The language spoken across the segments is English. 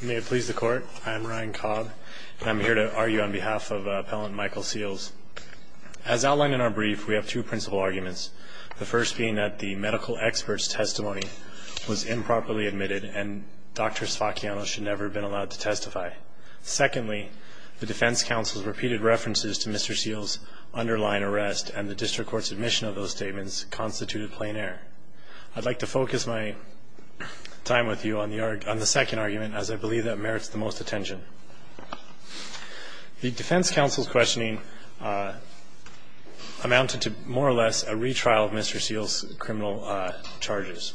May it please the court, I'm Ryan Cobb and I'm here to argue on behalf of Appellant Michael Seals. As outlined in our brief, we have two principal arguments. The first being that the medical expert's testimony was improperly admitted and Dr. Sfacchiano should never have been allowed to testify. Secondly, the defense counsel's repeated references to Mr. Seals' constituted plain air. I'd like to focus my time with you on the second argument as I believe that merits the most attention. The defense counsel's questioning amounted to more or less a retrial of Mr. Seals' criminal charges.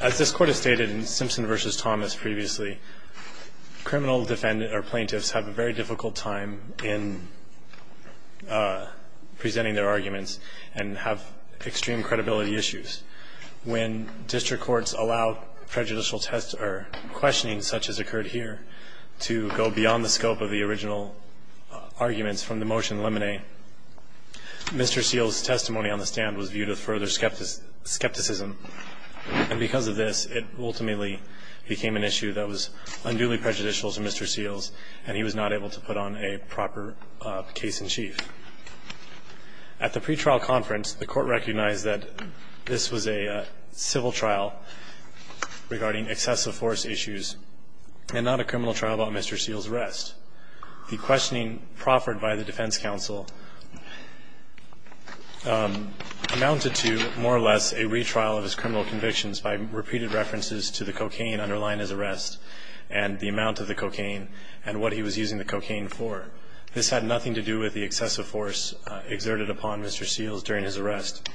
As this court has stated in Simpson v. Thomas previously, criminal plaintiffs have a very difficult time in presenting their arguments and have extreme credibility issues. When district courts allow prejudicial test or questioning such as occurred here to go beyond the scope of the original arguments from the motion limine, Mr. Seals' testimony on the stand was viewed with further skepticism, and because of this, it ultimately became an issue that was unduly prejudicial to Mr. Seals, and he was not able to put on a proper case in chief. At the same time, the defense convictions. At the pretrial conference, the Court recognized that this was a civil trial regarding excessive force issues and not a criminal trial about Mr. Seals' arrest. The questioning proffered by the defense counsel amounted to more or less a retrial of his criminal convictions by repeated references to the cocaine underlying his arrest and the amount of the cocaine and what he was using the cocaine for. This had nothing to do with the excessive force exerted upon Mr. Seals during his arrest.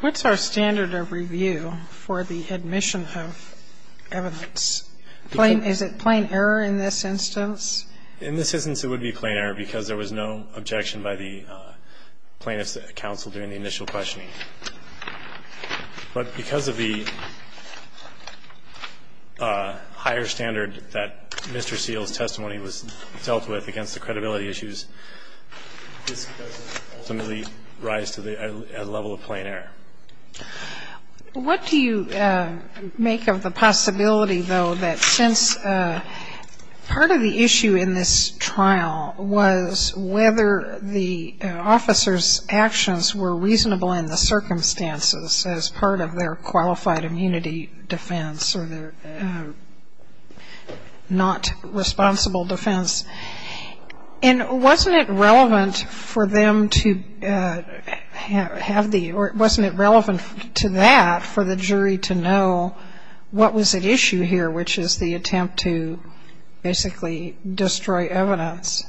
What's our standard of review for the admission of evidence? Is it plain error in this instance? In this instance, it would be plain error because there was no objection by the plaintiff's counsel during the initial questioning. But because of the higher standard that Mr. Seals' testimony was dealt with against the credibility issues, this doesn't ultimately rise to the level of plain error. What do you make of the possibility, though, that since part of the issue in this trial was whether the officers' actions were reasonable in the sense that they were using the circumstances as part of their qualified immunity defense or their not responsible defense, and wasn't it relevant for them to have the or wasn't it relevant to that for the jury to know what was at issue here, which is the attempt to basically destroy evidence?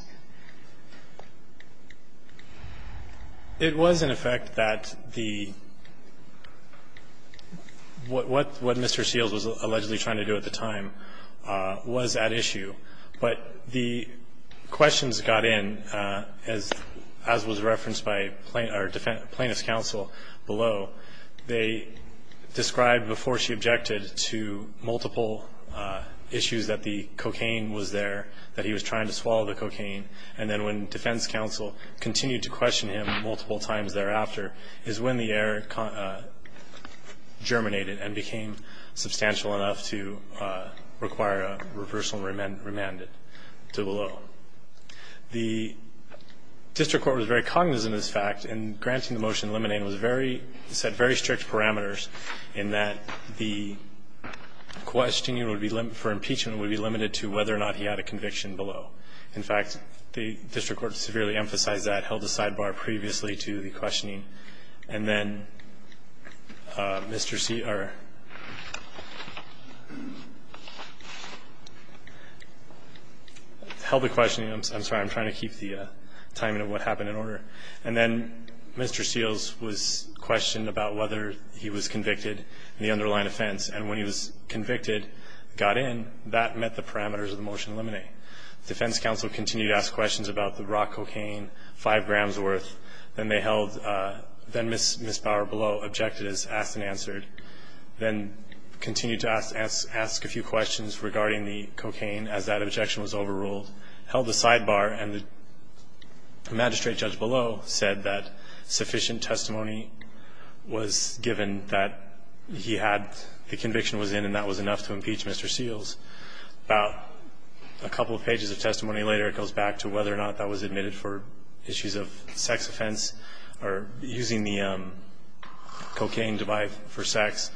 It was, in effect, that the what Mr. Seals was allegedly trying to do at the time was at issue. But the questions got in, as was referenced by plaintiff's counsel below, they described before she objected to multiple issues that the cocaine was there, that he was trying to swallow the cocaine. And then when defense counsel continued to question him multiple times thereafter is when the error germinated and became substantial enough to require a reversal and remand it to the law. The district court was very cognizant of this fact, and granting the motion to eliminate very strict parameters in that the questioning for impeachment would be limited to whether or not he had a conviction below. In fact, the district court severely emphasized that, held a sidebar previously to the questioning, and then Mr. Seals held the questioning. I'm sorry. I'm trying to keep the timing of what happened in order. And then Mr. Seals was questioned about whether he was convicted in the underlying offense. And when he was convicted, got in, that met the parameters of the motion to eliminate. Defense counsel continued to ask questions about the raw cocaine, 5 grams worth. Then they held Ms. Bauer below, objected as asked and answered, then continued to ask a few questions regarding the cocaine as that objection was overruled, held a sidebar, and the magistrate judge below said that sufficient testimony was given that he had the conviction was in and that was enough to impeach Mr. Seals. About a couple of pages of testimony later, it goes back to whether or not that was admitted for issues of sex offense or using the cocaine to buy for sex.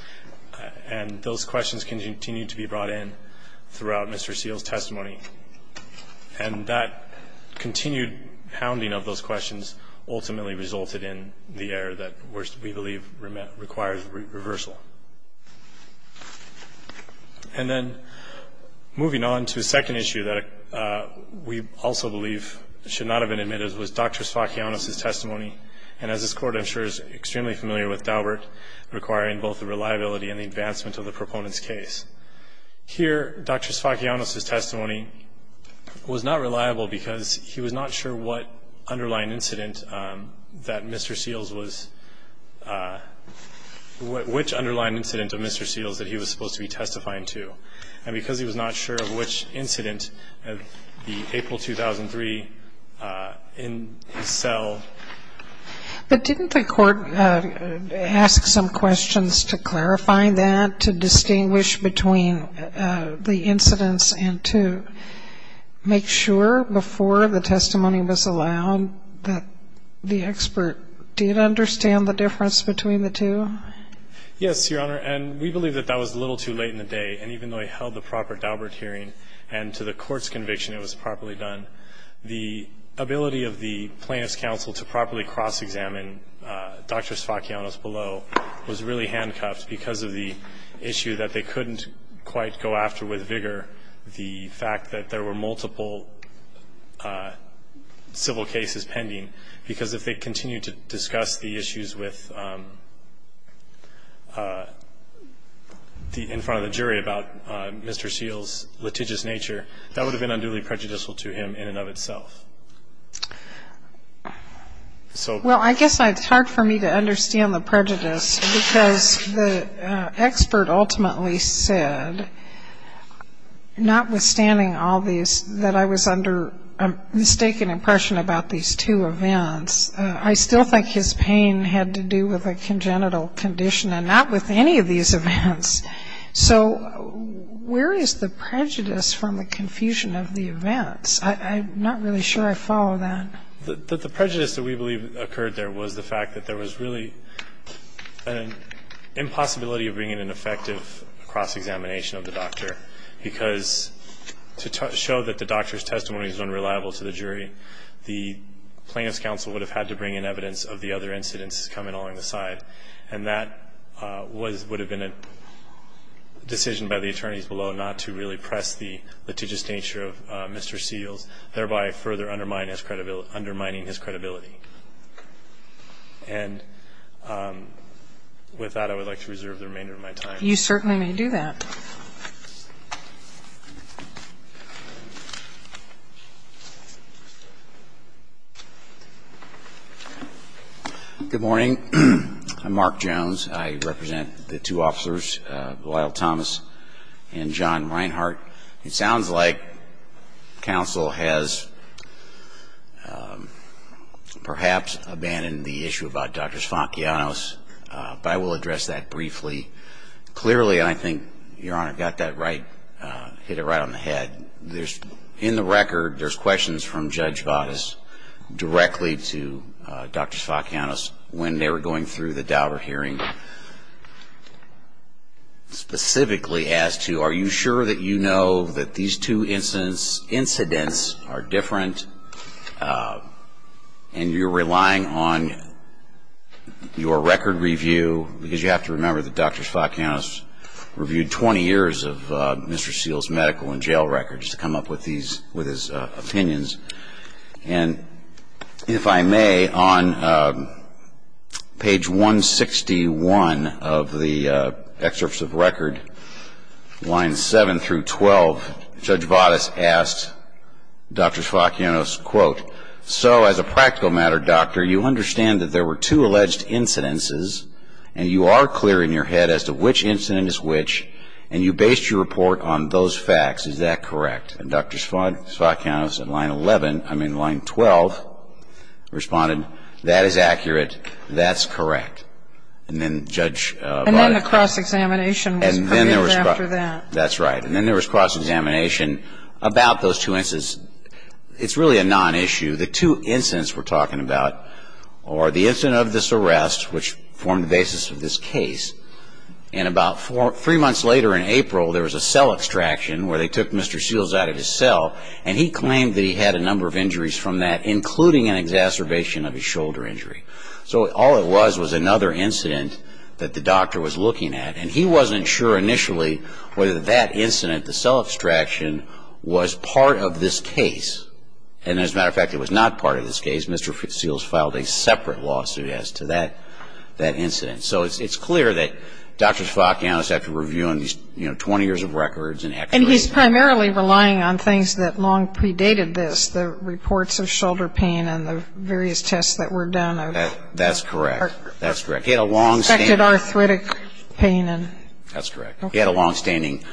And those questions continued to be brought in throughout Mr. Seals' testimony. And that continued hounding of those questions ultimately resulted in the error that we believe requires reversal. And then moving on to a second issue that we also believe should not have been admitted was Dr. Sfakianos' testimony. And as this Court, I'm sure, is extremely familiar with Daubert, requiring both the reliability and the advancement of the proponent's case. Here, Dr. Sfakianos' testimony was not reliable because he was not sure what underlying incident that Mr. Seals was, which underlying incident of Mr. Seals that he was supposed to be testifying to. And because he was not sure of which incident, the April 2003 in his cell. But didn't the Court ask some questions to clarify that, to distinguish between the incidents and to make sure before the testimony was allowed that the expert did understand the difference between the two? Yes, Your Honor. And we believe that that was a little too late in the day. And even though he held the proper Daubert hearing and to the Court's conviction it was properly done, the ability of the Plaintiff's counsel to properly cross-examine Dr. Sfakianos below was really handcuffed because of the issue that they couldn't quite go after with vigor, the fact that there were multiple civil cases pending. Because if they continued to discuss the issues with the, in front of the jury about Mr. Seals' litigious nature, that would have been unduly prejudicial to him in and of itself. So. Well, I guess it's hard for me to understand the prejudice because the expert ultimately said, notwithstanding all these, that I was under a mistaken impression about these two events, I still think his pain had to do with a congenital condition and not with any of these events. So where is the prejudice from the confusion of the events? I'm not really sure I follow that. The prejudice that we believe occurred there was the fact that there was really an impossibility of bringing an effective cross-examination of the doctor because to show that the doctor's testimony was unreliable to the jury, the Plaintiff's counsel would have had to bring in evidence of the other incidents coming along the side. And that would have been a decision by the attorneys below not to really press the litigious nature of Mr. Seals, thereby further undermining his credibility. And with that, I would like to reserve the remainder of my time. You certainly may do that. MR. JONES. Good morning. I'm Mark Jones. I represent the two officers, Lyle Thomas and John Reinhart. It sounds like counsel has perhaps abandoned the issue about Dr. Sfancheanos, but I will address that briefly. Your Honor, I got that right, hit it right on the head. There's, in the record, there's questions from Judge Bottas directly to Dr. Sfancheanos when they were going through the Dauber hearing, specifically as to are you sure that you know that these two incidents are different and you're relying on your record review, because you have to remember that Dr. Sfancheanos reviewed 20 years of Mr. Seals' medical and jail records to come up with his opinions. And if I may, on page 161 of the excerpts of record, lines 7 through 12, Judge Bottas asked Dr. Sfancheanos, quote, so as a practical matter, doctor, you understand that there were two alleged incidences and you are clear in your head as to which incident is which and you based your report on those facts. Is that correct? And Dr. Sfancheanos in line 11, I mean line 12, responded, that is accurate, that's correct. And then Judge Bottas ---- And then the cross-examination was permitted after that. That's right. And then there was cross-examination about those two incidents. It's really a non-issue. The two incidents we're talking about are the incident of this arrest, which formed the basis of this case, and about three months later in April, there was a cell extraction where they took Mr. Seals out of his cell, and he claimed that he had a number of injuries from that, including an exacerbation of his shoulder injury. So all it was was another incident that the doctor was looking at, and he wasn't sure initially whether that incident, the cell extraction, was part of this case. And as a matter of fact, it was not part of this case. Mr. Seals filed a separate lawsuit as to that incident. So it's clear that Dr. Sfancheanos, after reviewing these 20 years of records and actually ---- And he's primarily relying on things that long predated this, the reports of shoulder pain and the various tests that were done. That's correct. That's correct. He had a long-standing ---- Arthritic pain and ---- That's correct. He had a long-standing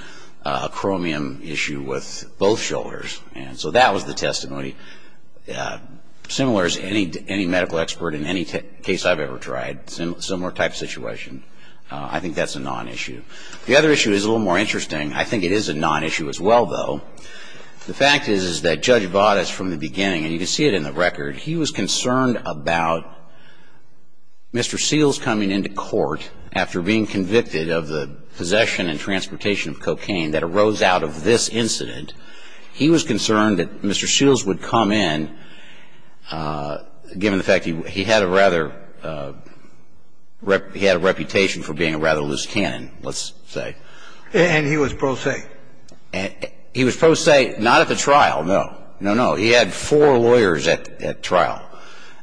acromion issue with both shoulders. And so that was the testimony. Similar as any medical expert in any case I've ever tried, similar type situation. I think that's a non-issue. The other issue is a little more interesting. I think it is a non-issue as well, though. The fact is that Judge Vadas, from the beginning, and you can see it in the record, he was concerned about Mr. Seals coming into court after being convicted of the possession and transportation of cocaine that arose out of this incident. He was concerned that Mr. Seals would come in, given the fact he had a rather ---- he had a reputation for being a rather loose cannon, let's say. And he was pro se. He was pro se, not at the trial, no. No, no. He had four lawyers at trial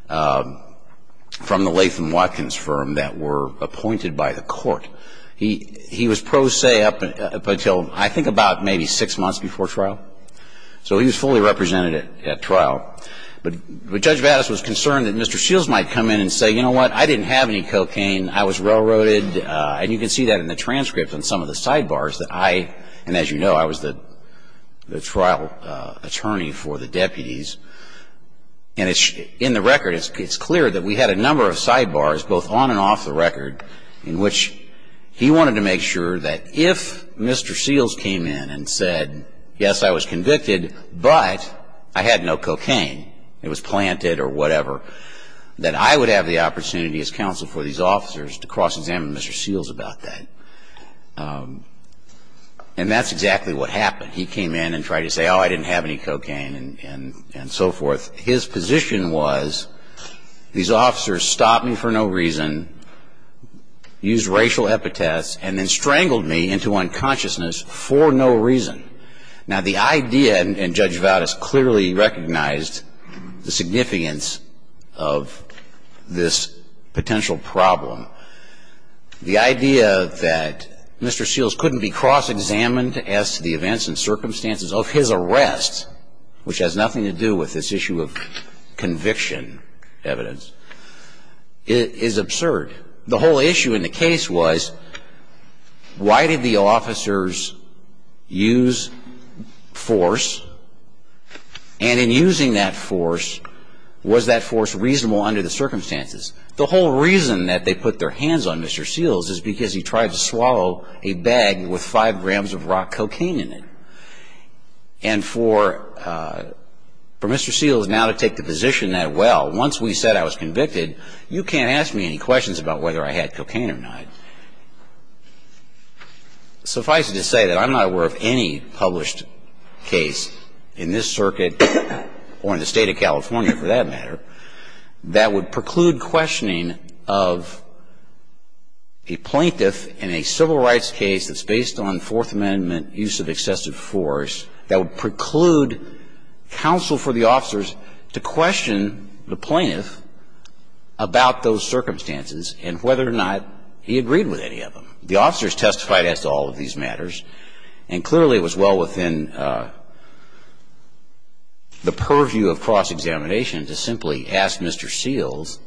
from the Latham Watkins firm that were appointed by the court. He was pro se up until I think about maybe six months before trial. So he was fully represented at trial. But Judge Vadas was concerned that Mr. Seals might come in and say, you know what? I didn't have any cocaine. I was railroaded. And you can see that in the transcript on some of the sidebars that I, and as you know, I was the trial attorney for the deputies. And in the record it's clear that we had a number of sidebars, both on and off the record, in which he wanted to make sure that if Mr. Seals came in and said, yes, I was convicted, but I had no cocaine, it was planted or whatever, that I would have the opportunity as counsel for these officers to cross-examine Mr. Seals about that. And that's exactly what happened. He came in and tried to say, oh, I didn't have any cocaine and so forth. His position was these officers stopped me for no reason, used racial epitaphs, and then strangled me into unconsciousness for no reason. Now, the idea, and Judge Vadas clearly recognized the significance of this potential problem, the idea that Mr. Seals couldn't be cross-examined as to the events and circumstances of his arrest, which has nothing to do with this issue of conviction evidence, is absurd. The whole issue in the case was, why did the officers use force? And in using that force, was that force reasonable under the circumstances? The whole reason that they put their hands on Mr. Seals is because he tried to swallow a bag with 5 grams of raw cocaine in it. And for Mr. Seals now to take the position that, well, once we said I was convicted, you can't ask me any questions about whether I had cocaine or not, suffice it to say that I'm not aware of any published case in this circuit or in the State of California, for that matter, that would preclude questioning of a plaintiff in a civil rights case that's based on Fourth Amendment use of excessive force, that would preclude counsel for the officers to question the plaintiff about those circumstances and whether or not he agreed with any of them. The officers testified as to all of these matters, and clearly it was well within the purview of cross-examination to simply ask Mr. Seals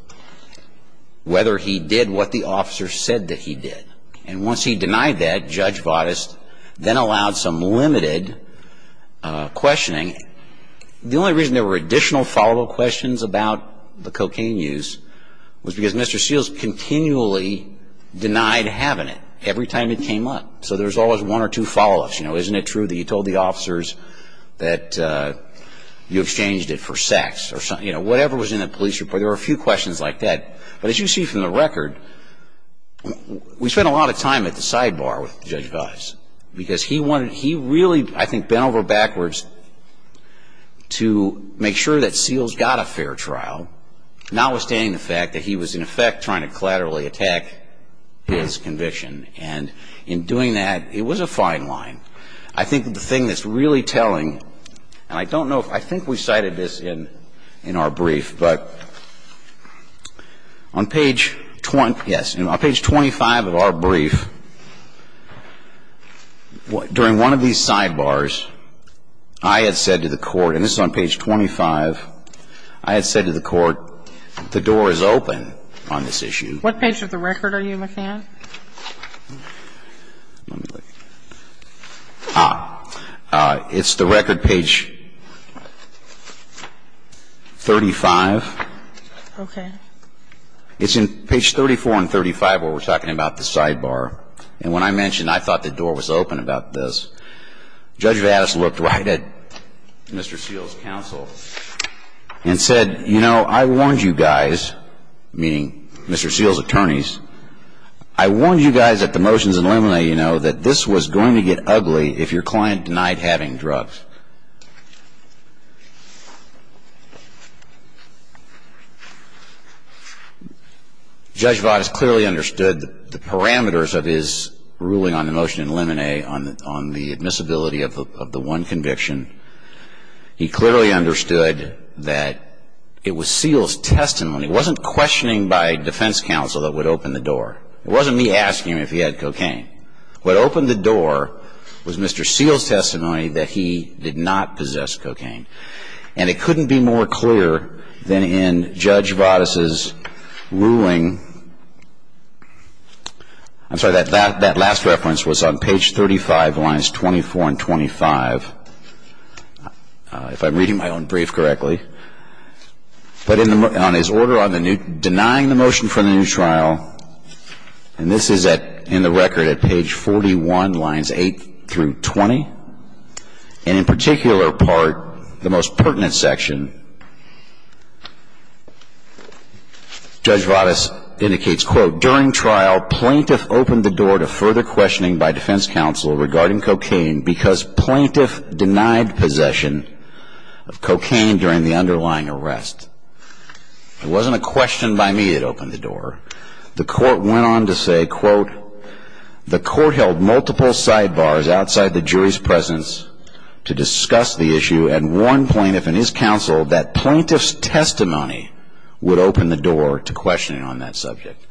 whether he did what the officers said that he did. And once he denied that, Judge Votis then allowed some limited questioning. The only reason there were additional follow-up questions about the cocaine use was because Mr. Seals continually denied having it every time it came up. So there's always one or two follow-ups. You know, isn't it true that you told the officers that you exchanged it for sex or something? You know, whatever was in the police report, there were a few questions like that. But as you see from the record, we spent a lot of time at the sidebar with Judge Votis because he really, I think, bent over backwards to make sure that Seals got a fair trial, notwithstanding the fact that he was, in effect, trying to collaterally attack his conviction. And in doing that, it was a fine line. I think that the thing that's really telling, and I don't know if – I think we cited this in our brief, but on page 20 – yes. On page 25 of our brief, during one of these sidebars, I had said to the Court, and this is on page 25, I had said to the Court, the door is open on this issue. What page of the record are you, McCann? Ah. It's the record page 35. Okay. It's in page 34 and 35 where we're talking about the sidebar. And when I mentioned I thought the door was open about this, Judge Votis looked right at Mr. Seals' counsel and said, you know, I warned you guys, meaning Mr. Seals' attorneys, I warned you guys at the motions in limine that this was going to get ugly if your client denied having drugs. Judge Votis clearly understood the parameters of his ruling on the motion in limine on the admissibility of the one conviction. He clearly understood that it was Seals' testimony. It wasn't questioning by defense counsel that would open the door. It wasn't me asking him if he had cocaine. What opened the door was Mr. Seals' testimony that he did not possess cocaine. And it couldn't be more clear than in Judge Votis' ruling – I'm sorry, that last reference was on page 35, lines 24 and 25. If I'm reading my own brief correctly. But on his order denying the motion for the new trial, and this is in the record at page 41, lines 8 through 20, and in particular part, the most pertinent section, Judge Votis indicates, quote, During trial, plaintiff opened the door to further questioning by defense counsel regarding cocaine because plaintiff denied possession of cocaine during the underlying arrest. It wasn't a question by me that opened the door. The court went on to say, quote, The court held multiple sidebars outside the jury's presence to discuss the issue and warned plaintiff and his counsel that plaintiff's testimony would open the door to questioning on that subject.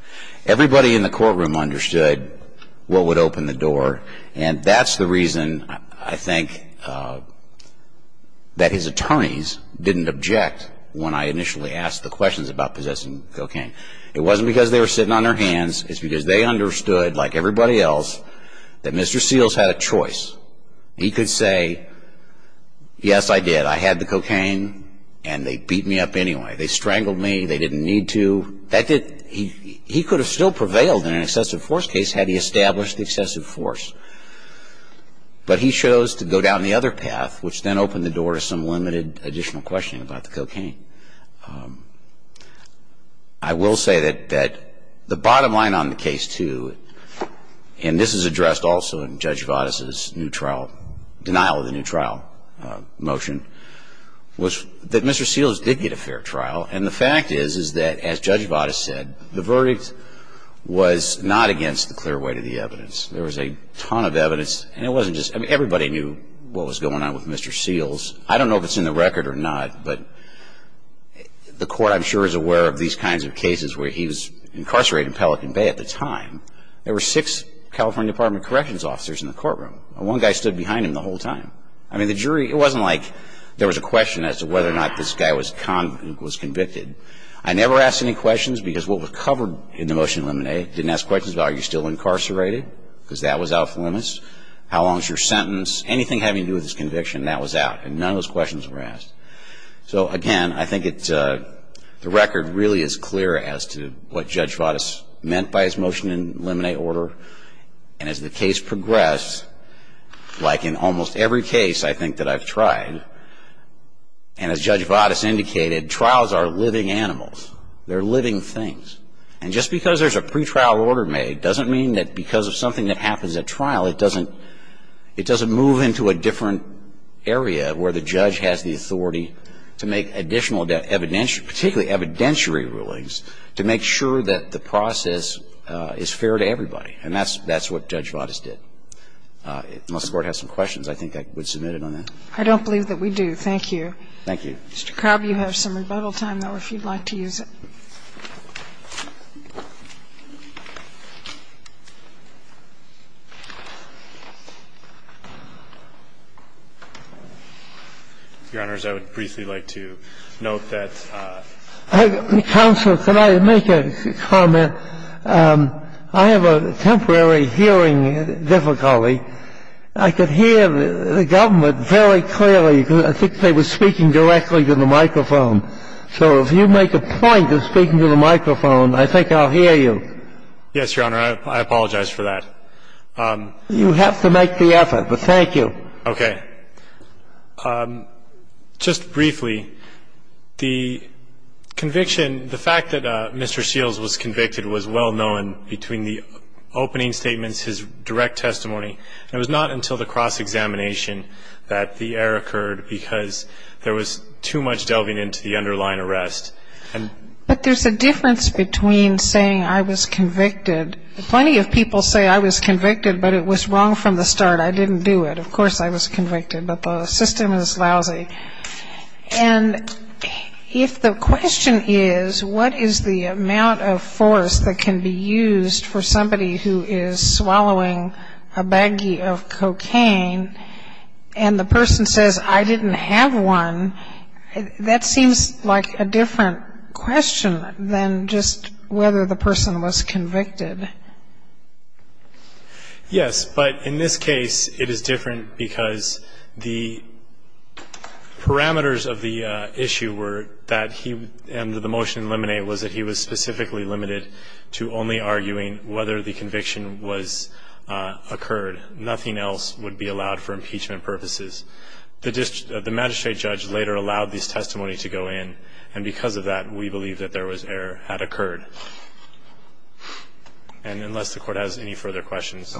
Everybody in the courtroom understood what would open the door. And that's the reason, I think, that his attorneys didn't object when I initially asked the questions about possessing cocaine. It wasn't because they were sitting on their hands. It's because they understood, like everybody else, that Mr. Seals had a choice. He could say, yes, I did. I had the cocaine, and they beat me up anyway. They strangled me. They didn't need to. He could have still prevailed in an excessive force case had he established excessive force. But he chose to go down the other path, which then opened the door to some limited additional questioning about the cocaine. I will say that the bottom line on the case, too, and this is addressed also in Judge Vadas' new trial, denial of the new trial motion, was that Mr. Seals did get a fair trial. And the fact is, is that, as Judge Vadas said, the verdict was not against the clear weight of the evidence. There was a ton of evidence, and it wasn't just, I mean, everybody knew what was going on with Mr. Seals. I don't know if it's in the record or not. But the court, I'm sure, is aware of these kinds of cases where he was incarcerated in Pelican Bay at the time. There were six California Department of Corrections officers in the courtroom. And one guy stood behind him the whole time. I mean, the jury, it wasn't like there was a question as to whether or not this guy was convicted. I never asked any questions because what was covered in the motion eliminate, didn't ask questions about are you still incarcerated because that was out of limits. How long is your sentence? Anything having to do with his conviction, that was out. And none of those questions were asked. So, again, I think it's, the record really is clear as to what Judge Vadas meant by his motion eliminate order. And as the case progressed, like in almost every case I think that I've tried, and as Judge Vadas indicated, trials are living animals. They're living things. And just because there's a pretrial order made doesn't mean that because of something that happens at trial, it doesn't, it doesn't move into a different area where the judge has the authority to make additional evidentiary, particularly evidentiary rulings to make sure that the process is fair to everybody. And that's, that's what Judge Vadas did. Unless the Court has some questions, I think I would submit it on that. I don't believe that we do. Thank you. Thank you. Mr. Crabb, you have some rebuttal time, though, if you'd like to use it. Your Honor, I would briefly like to note that the counsel, can I make a comment? I have a temporary hearing difficulty. I could hear the government very clearly. I think they were speaking directly to the microphone. So if you make a point of speaking to the microphone, I think I'll hear you. Yes, Your Honor. I apologize for that. You have to make the effort, but thank you. Okay. Just briefly, the conviction, the fact that Mr. Shields was convicted was well-known between the opening statements, his direct testimony, and it was not until the cross-examination that the error occurred because there was too much delving into the underlying arrest. But there's a difference between saying I was convicted. Plenty of people say I was convicted, but it was wrong from the start. I didn't do it. Of course I was convicted, but the system is lousy. And if the question is what is the amount of force that can be used for somebody who is swallowing a baggie of cocaine and the person says I didn't have one, that seems like a different question than just whether the person was convicted. Yes. But in this case it is different because the parameters of the issue were that he was specifically limited to only arguing whether the conviction was occurred. Nothing else would be allowed for impeachment purposes. The magistrate judge later allowed this testimony to go in, and because of that we believe that there was error had occurred. And unless the Court has any further questions.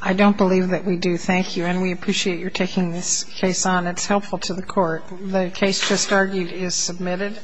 I don't believe that we do. Thank you. It's helpful to the Court. The case just argued is submitted.